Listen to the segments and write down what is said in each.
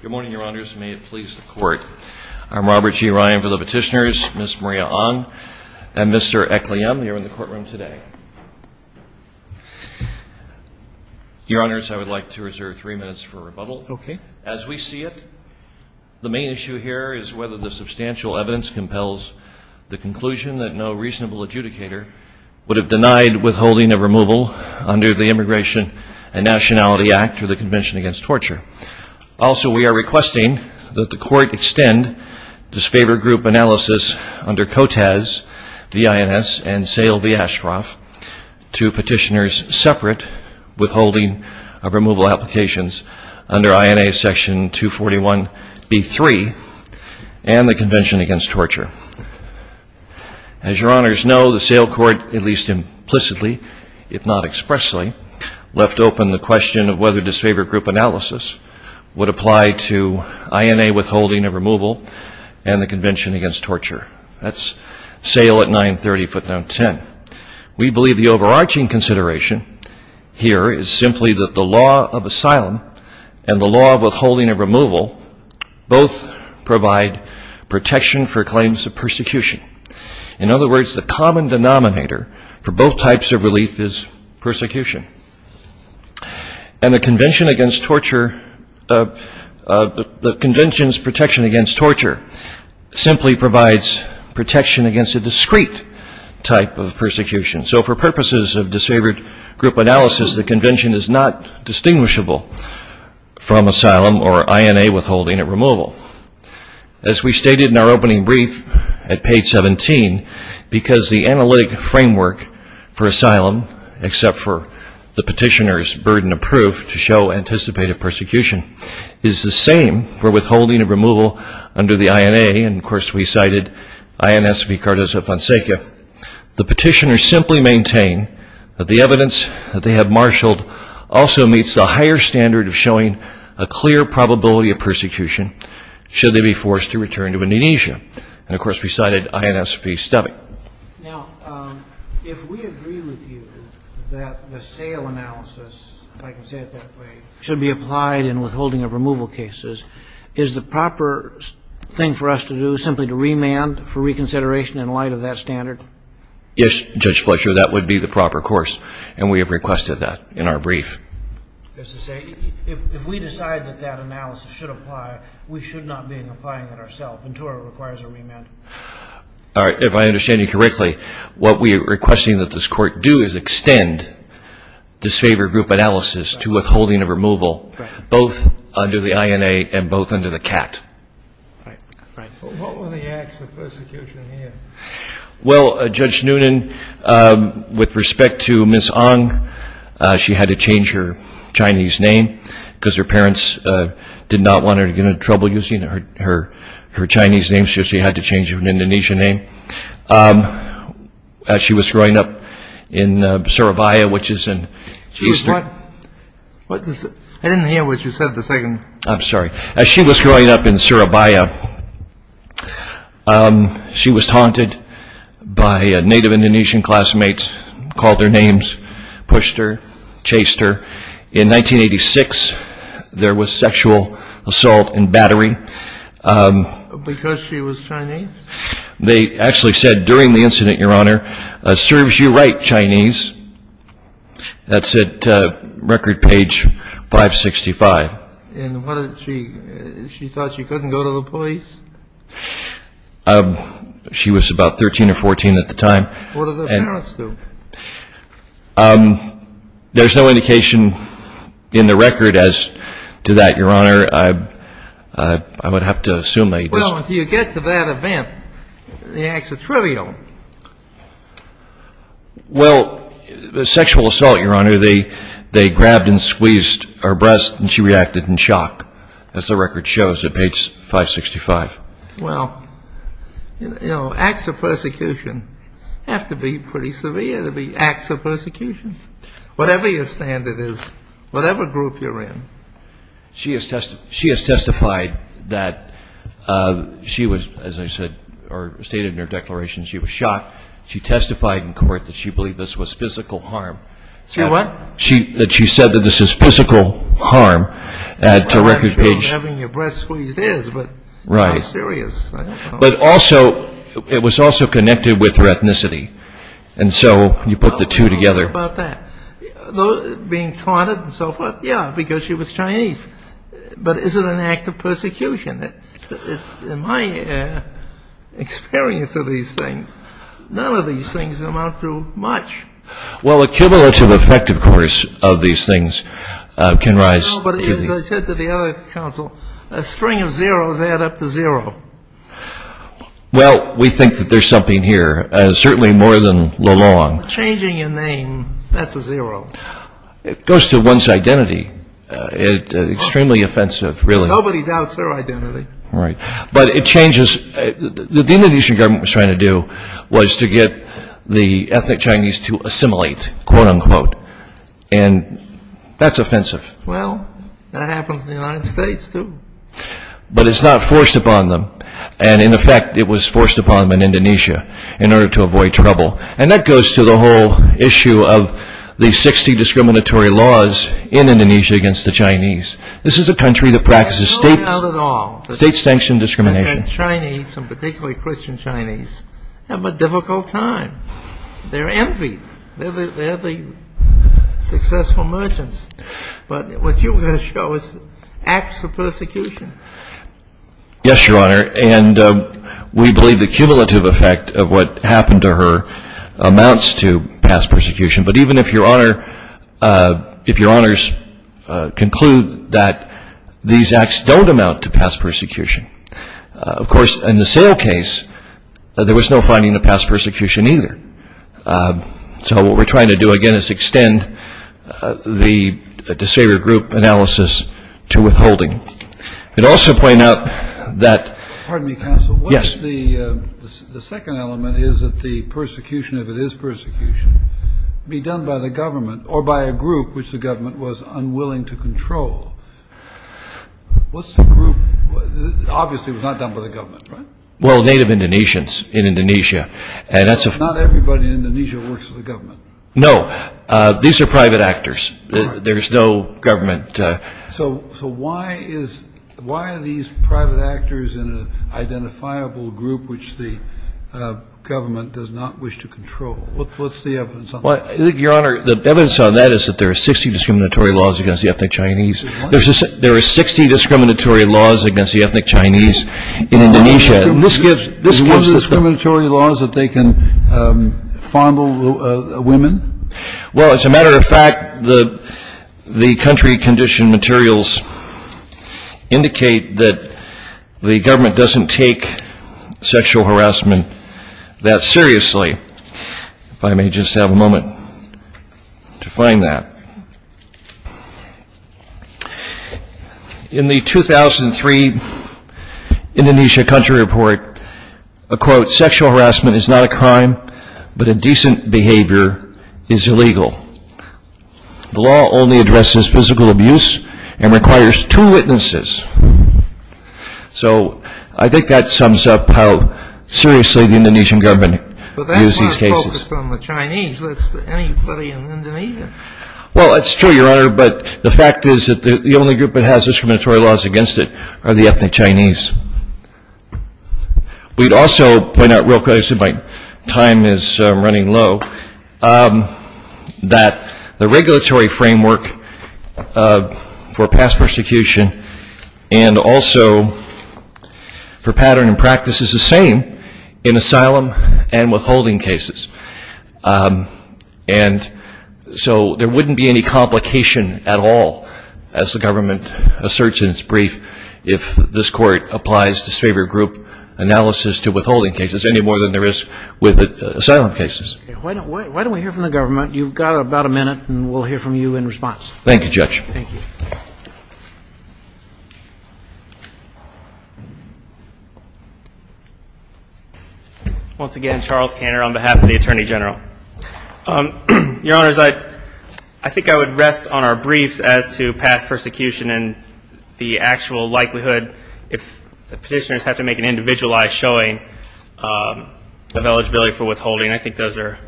Good morning, Your Honors, and may it please the Court. I'm Robert G. Ryan for the Petitioners, Ms. Maria Ahn, and Mr. Ekliam, you're in the courtroom today. Your Honors, I would like to reserve three minutes for rebuttal. Okay. As we see it, the main issue here is whether the substantial evidence compels the conclusion that no reasonable adjudicator would have denied withholding a removal under the Immigration and Nationality Act or the Convention Against Torture. Also, we are requesting that the Court extend disfavored group analysis under COTAS, V.I.N.S., and SAIL v. Ashcroft to Petitioners separate withholding of removal applications under INA Section 241b3 and the Convention Against Torture. As Your Honors know, the SAIL Court, at least implicitly, if not expressly, left open the question of whether disfavored group analysis would apply to INA withholding of removal and the Convention Against Torture. That's SAIL at 930 footnote 10. We believe the overarching consideration here is simply that the law of asylum and the law of withholding of removal both provide protection for claims of persecution. In other words, the common denominator for both types of relief is persecution. And the Convention Against Torture, the Convention's protection against torture simply provides protection against a discrete type of persecution. So for purposes of disfavored group analysis, the Convention is not distinguishable from withholding of removal. As we stated in our opening brief at page 17, because the analytic framework for asylum, except for the Petitioner's burden of proof to show anticipated persecution, is the same for withholding of removal under the INA, and of course we cited INS v. Cardozo-Fonseca, the Petitioners simply maintain that the evidence that they have marshaled also meets the higher standard of showing a clear probability of persecution should they be forced to return to Indonesia. And of course we cited INS v. Stubbeck. Now, if we agree with you that the SAIL analysis, if I can say it that way, should be applied in withholding of removal cases, is the proper thing for us to do simply to remand for reconsideration in light of that standard? Yes, Judge Fletcher, that would be the proper course. And we have requested that in our brief. That's to say, if we decide that that analysis should apply, we should not be applying it ourself until it requires a remand. All right. If I understand you correctly, what we are requesting that this Court do is extend disfavored group analysis to withholding of removal, both under the INA and both under the CAT. Right. Right. What were the acts of persecution here? Well, Judge Noonan, with respect to Ms. Ong, she had to change her Chinese name because her parents did not want her to get into trouble using her Chinese name, so she had to change her Indonesian name. As she was growing up in Surabaya, which is in eastern... She was what? I didn't hear what you said the second... I'm sorry. As she was growing up in Surabaya, she was taunted by native Indonesian classmates called their names, pushed her, chased her. In 1986, there was sexual assault and battery. Because she was Chinese? They actually said during the incident, Your Honor, serves you right, Chinese. That's at record page 565. And what did she... She thought she couldn't go to the police? She was about 13 or 14 at the time. What did her parents do? There's no indication in the record as to that, Your Honor. I would have to assume they just... Well, until you get to that event, the acts are trivial. Well, the sexual assault, Your Honor, they grabbed and squeezed her breast and she reacted in shock, as the record shows at page 565. Well, you know, acts of persecution have to be pretty severe to be acts of persecution. Whatever your standard is, whatever group you're in... She has testified that she was, as I said, or stated in her declaration, she was shocked. She testified in court that she believed this was physical harm. She what? That she said that this is physical harm at the record page... Well, actually, having your breast squeezed is, but... Right. How serious? But also, it was also connected with her ethnicity. And so you put the two together. Being targeted and so forth, yeah, because she was Chinese. But is it an act of persecution? In my experience of these things, none of these things amount to much. Well, a cumulative effect, of course, of these things can rise... No, but as I said to the other counsel, a string of zeroes add up to zero. Well, we think that there's something here, certainly more than Lalonde. Changing your name, that's a zero. It goes to one's identity. It's extremely offensive, really. Nobody doubts their identity. Right. But it changes... What the Indonesian government was trying to do was to get the ethnic Chinese to assimilate, quote-unquote. And that's offensive. Well, that happens in the United States, too. But it's not forced upon them. And in effect, it was forced upon them in Indonesia in order to avoid trouble. And that goes to the whole issue of the 60 discriminatory laws in Indonesia against the Chinese. This is a country that practices state- Absolutely not at all. State-sanctioned discrimination. And Chinese, and particularly Christian Chinese, have a difficult time. They're envied. They're the successful merchants. But what you're going to show is acts of persecution. Yes, Your Honor. And we believe the cumulative effect of what happened to her amounts to past persecution. But even if, Your Honor, if Your Honors conclude that these acts don't amount to past persecution, of course, in the sale case, there was no finding of past persecution, either. So what we're trying to do, again, is extend the disabled group analysis to withholding. And also point out that- Pardon me, counsel. Yes. The second element is that the persecution, if it is persecution, be done by the government or by a group which the government was unwilling to control. What's the group? Obviously, it was not done by the government, right? Well, Native Indonesians in Indonesia. Not everybody in Indonesia works for the government. No. These are private actors. There's no government- So why are these private actors in an identifiable group which the government does not wish to control? What's the evidence on that? Your Honor, the evidence on that is that there are 60 discriminatory laws against the ethnic Chinese. There are 60 discriminatory laws against the ethnic Chinese in Indonesia. This gives- Are there discriminatory laws that they can fondle women? Well, as a matter of fact, the country condition materials indicate that the government doesn't take sexual harassment that seriously. If I may just have a moment to find that. In the 2003 Indonesia Country Report, a quote, sexual harassment is not a crime, but indecent behavior is illegal. The law only addresses physical abuse and requires two witnesses. So I think that sums up how seriously the Indonesian government views these cases. But that's not focused on the Chinese. That's anybody in Indonesia. Well, that's true, Your Honor. But the fact is that the only group that has discriminatory laws against it are the ethnic Chinese. We'd also point out real quickly, since my time is running low, that the regulatory framework for past persecution and also for pattern and practice is the same in asylum and withholding cases. And so there wouldn't be any complication at all, as the government asserts in its brief, if this Court applies disfavor group analysis to withholding cases any more than there is with asylum cases. Why don't we hear from the government? You've got about a minute, and we'll hear from you in response. Thank you, Judge. Thank you. Once again, Charles Kanner on behalf of the Attorney General. Your Honors, I think I would rest on our briefs as to past persecution and the actual likelihood, if Petitioners have to make an individualized showing, of eligibility for withholding. I think those are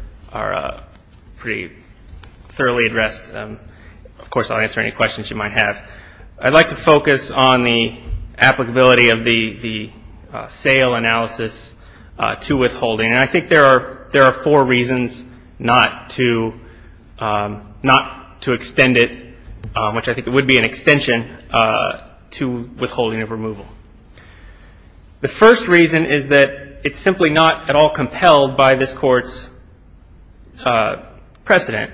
pretty thoroughly addressed. Of course, I'll answer any questions you might have. I'd like to focus on the applicability of the SAIL analysis to withholding, and I think there are four reasons not to extend it, which I think would be an extension, to withholding of removal. The first reason is that it's simply not at all compelled by this Court's precedent.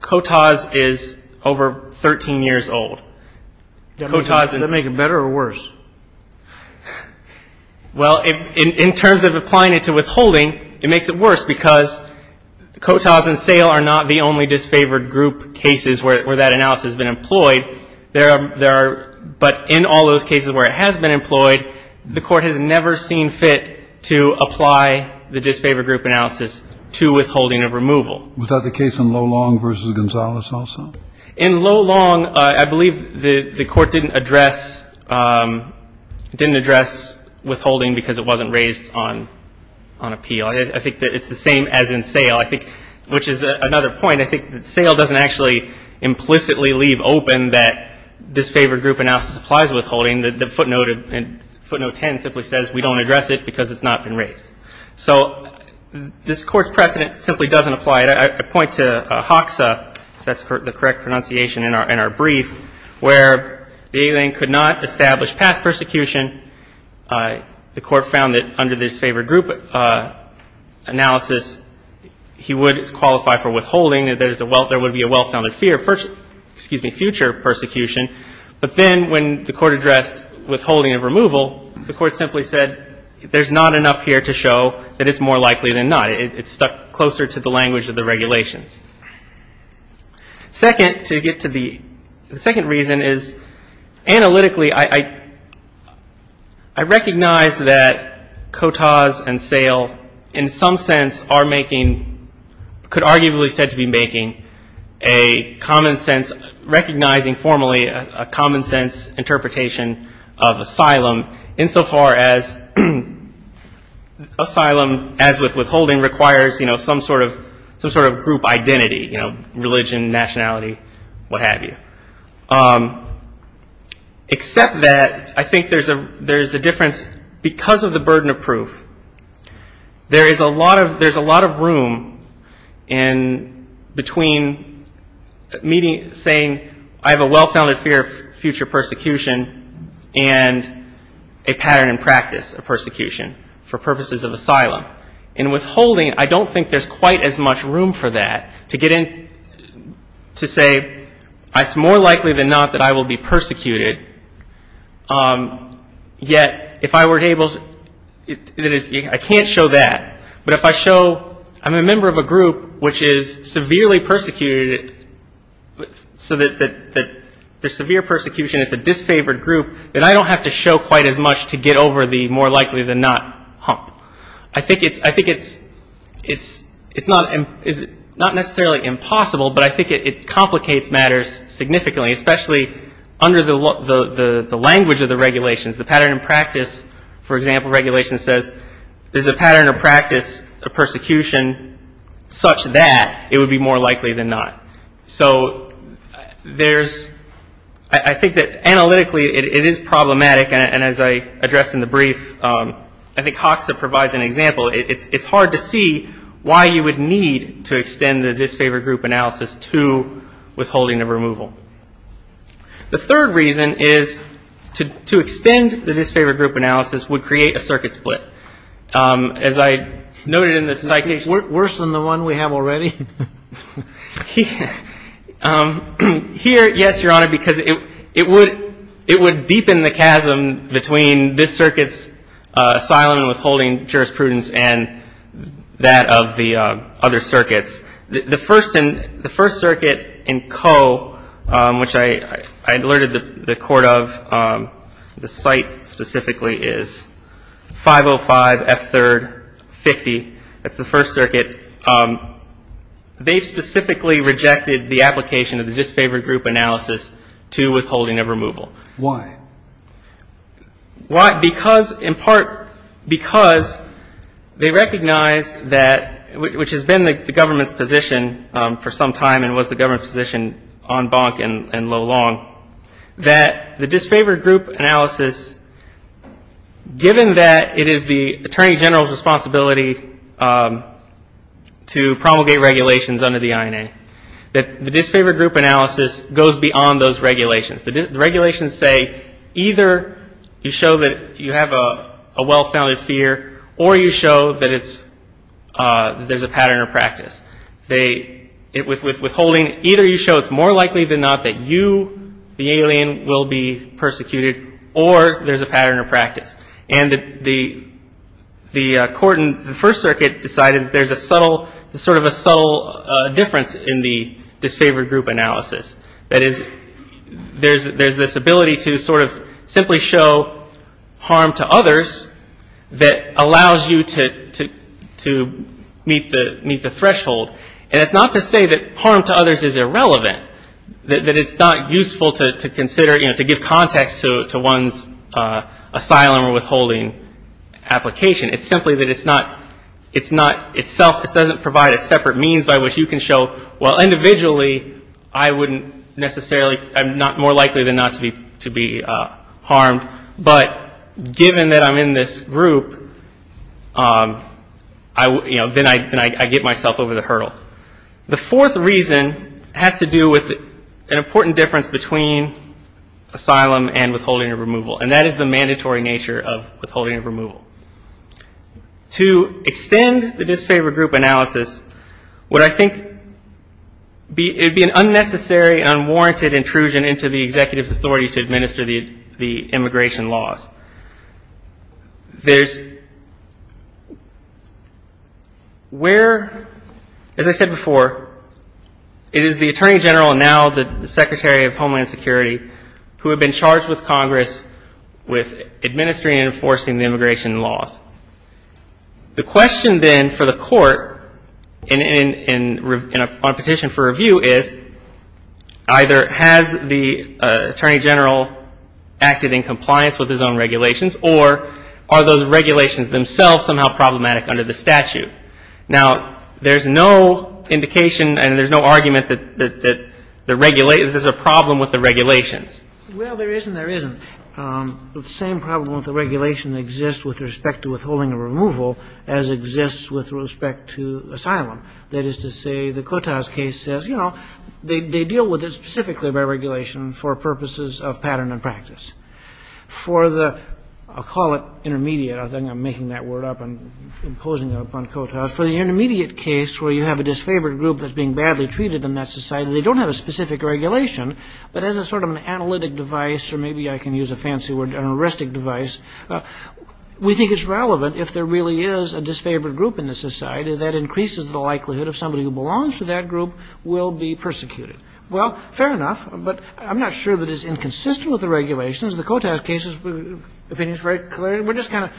COTAS is over 13 years old. Does that make it better or worse? Well, in terms of applying it to withholding, it makes it worse because COTAS and SAIL are not the only disfavored group cases where that analysis has been employed. There are, but in all those cases where it has been employed, the Court has never seen fit to apply the disfavored group analysis to withholding of removal. Was that the case in Lolong v. Gonzalez also? In Lolong, I believe the Court didn't address withholding because it wasn't raised on appeal. I think that it's the same as in SAIL, which is another point. I think that SAIL doesn't actually implicitly leave open that disfavored group analysis applies to withholding. The footnote in footnote 10 simply says we don't address it because it's not been raised. So this Court's precedent simply doesn't apply. I point to Hoxa, if that's the correct pronunciation, in our brief, where the alien could not establish past persecution. The Court found that under disfavored group analysis, he would qualify for withholding. There would be a well-founded fear of future persecution. But then when the Court addressed withholding of removal, the Court simply said there's not enough here to show that it's more likely than not. It's stuck closer to the language of the regulations. Second, to get to the second reason is, analytically, I recognize that COTAS and SAIL, in some sense, are making, could arguably be said to be making a common sense, recognizing formally a common sense interpretation of asylum, insofar as asylum, as with withholding, requires some sort of group identity, religion, nationality, what have you. Except that I think there's a difference because of the burden of proof. There is a lot of room in between saying I have a well-founded fear of future persecution and a pattern in practice of persecution for purposes of asylum. In withholding, I don't think there's quite as much room for that, to get in, to say, it's more likely than not that I will be persecuted. Yet, if I were able to, I can't show that. But if I show I'm a member of a group which is severely persecuted, so that there's severe persecution, it's a disfavored group, then I don't have to show quite as much to get over the more likely than not hump. I think it's not necessarily impossible, but I think it complicates matters significantly, especially under the language of the regulations. The pattern of practice, for example, regulation says, there's a pattern of practice of persecution such that it would be more likely than not. So there's, I think that analytically, it is problematic. And as I addressed in the brief, I think Hoxha provides an example. It's hard to see why you would need to extend the disfavored group analysis to withholding of removal. The third reason is to extend the disfavored group analysis would create a circuit split. As I noted in the citation- Worse than the one we have already? Here, yes, Your Honor, because it would deepen the chasm between this circuit's asylum and withholding jurisprudence and that of the other circuits. The first circuit in Coe, which I alerted the Court of, the site specifically, is 505 F3rd 50. That's the first circuit. They specifically rejected the application of the disfavored group analysis to withholding of removal. Why? Why? Because, in part, because they recognized that, which has been the government's position for some time and was the government's position on Bonk and Lo Long, that the disfavored group analysis, given that it is the Attorney General's responsibility to promulgate regulations under the INA, that the disfavored group analysis goes beyond those regulations. The regulations say either you show that you have a well-founded fear or you show that there's a pattern of practice. With withholding, either you show it's more likely than not that you, the alien, will be persecuted or there's a pattern of practice. And the Court in the first circuit decided there's a subtle, sort of a subtle difference in the disfavored group analysis. That is, there's this ability to sort of simply show harm to others that allows you to meet the threshold. And it's not to say that harm to others is irrelevant, that it's not useful to consider, you know, to give context to one's asylum or withholding application. It's simply that it's not itself, it doesn't provide a separate means by which you can show, well, individually, I wouldn't necessarily, I'm not more likely than not to be harmed, but given that I'm in this group, you know, then I get myself over the hurdle. The fourth reason has to do with an important difference between asylum and withholding or removal, and that is the mandatory nature of withholding or removal. To extend the disfavored group analysis would, I think, be an unnecessary, unwarranted intrusion into the executive's authority to administer the immigration laws. There's where, as I said before, it is the Attorney General and now the Secretary of Homeland Security who have been charged with Congress with administering and enforcing the immigration laws. The question, then, for the court in a petition for review is either has the Attorney General acted in compliance with his own regulations or are those regulations themselves somehow problematic under the statute? Now, there's no indication and there's no argument that there's a problem with the regulations. Well, there is and there isn't. The same problem with the regulation exists with respect to withholding or removal as exists with respect to asylum. That is to say, the Kotas case says, you know, they deal with it specifically by regulation for purposes of pattern and practice. For the, I'll call it intermediate. I think I'm making that word up and imposing it upon Kotas. For the intermediate case where you have a disfavored group that's being badly treated in that society, they don't have a specific regulation, but as a sort of an analytic device, or maybe I can use a fancy word, an heuristic device, we think it's relevant if there really is a disfavored group in the society that increases the likelihood of somebody who belongs to that group will be persecuted. Well, fair enough, but I'm not sure that it's inconsistent with the regulations. The Kotas case's opinion is very clear. We're just kind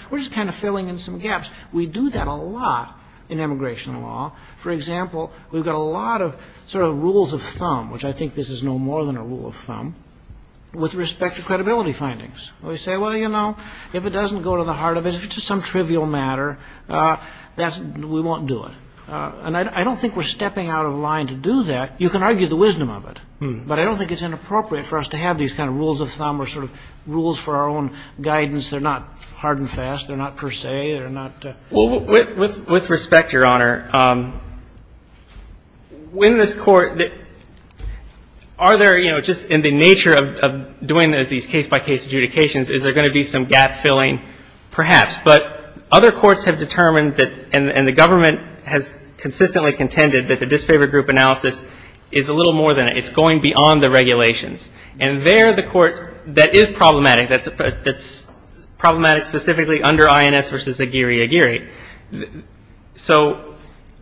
of filling in some gaps. We do that a lot in immigration law. For example, we've got a lot of sort of rules of thumb, which I think this is no more than a rule of thumb, with respect to credibility findings. We say, well, you know, if it doesn't go to the heart of it, if it's just some trivial matter, we won't do it. And I don't think we're stepping out of line to do that. You can argue the wisdom of it, but I don't think it's inappropriate for us to have these kind of rules of thumb or sort of rules for our own guidance. They're not hard and fast. They're not per se. They're not. Well, with respect, Your Honor, in this Court, are there, you know, just in the nature of doing these case-by-case adjudications, is there going to be some gap-filling? Perhaps. But other courts have determined that, and the government has consistently contended that the disfavor group analysis is a little more than that. It's going beyond the regulations. And there, the Court, that is problematic, that's problematic specifically under INS v. Aguirre-Aguirre. So,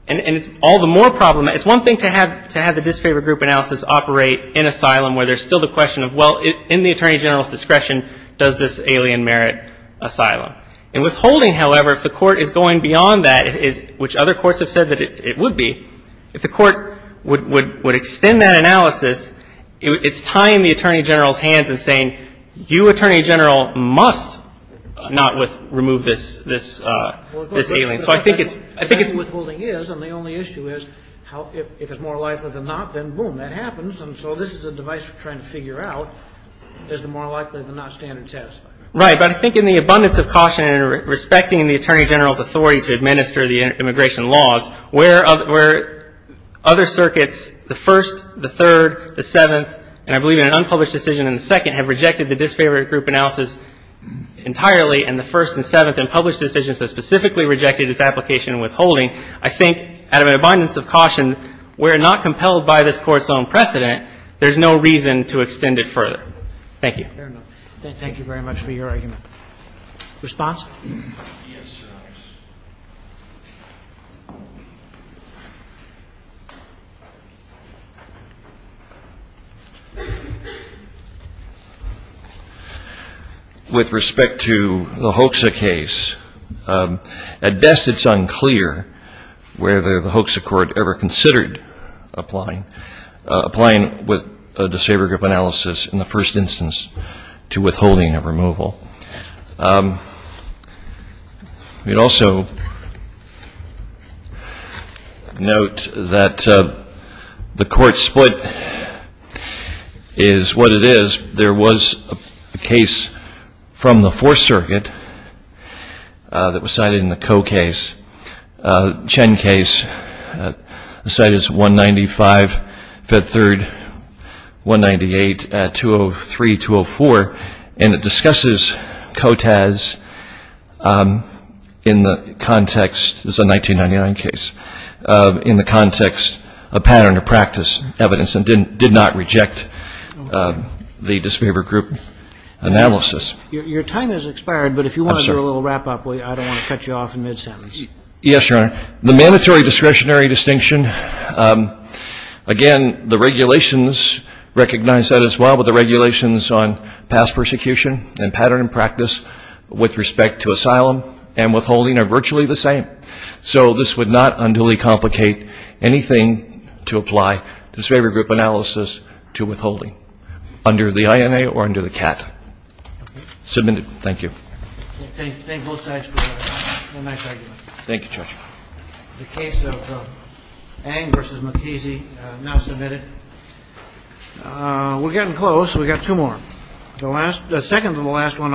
and it's all the more problematic. It's one thing to have the disfavor group analysis operate in asylum where there's still the question of, well, in the Attorney General's discretion, does this alien merit asylum? And withholding, however, if the Court is going beyond that, which other courts have said that it would be, if the Court would extend that analysis, it's tying the Attorney General's hands and saying, you, Attorney General, must not remove this alien. So I think it's ‑‑ Well, of course, withholding is. And the only issue is if it's more likely than not, then boom, that happens. And so this is a device for trying to figure out is it more likely than not standard and satisfied. Right. But I think in the abundance of caution and respecting the Attorney General's authority to administer the immigration laws, where other circuits, the First, the Third, the Seventh, and I believe in an unpublished decision in the Second, have rejected the disfavor group analysis entirely, and the First and Seventh in published decisions have specifically rejected its application and withholding. I think out of an abundance of caution, we're not compelled by this Court's own precedent. There's no reason to extend it further. Thank you. Fair enough. Thank you very much for your argument. Response? Yes, Your Honors. With respect to the HOCSA case, at best it's unclear whether the HOCSA Court ever considered applying with a disfavor group analysis in the first instance to withholding of removal. We'd also note that the Court split is what it is. There was a case from the Fourth Circuit that was cited in the Coe case, Chen case, the site is 195, Fed Third, 198, 203, 204, and it discusses COTAS in the context of the 1999 case, in the context of pattern of practice evidence, and did not reject the disfavor group analysis. Your time has expired, but if you want to do a little wrap-up, I don't want to cut you off in mid-sentence. Yes, Your Honor. The mandatory discretionary distinction, again, the regulations recognize that as well, but the regulations on past persecution and pattern of practice with respect to asylum and withholding are virtually the same. So this would not unduly complicate anything to apply disfavor group analysis to withholding under the INA or under the CAT. Submitted. Thank you. Thank both sides for a nice argument. Thank you, Judge. The case of Ang v. McKeezy, now submitted. We're getting close. We've got two more. The second to the last one.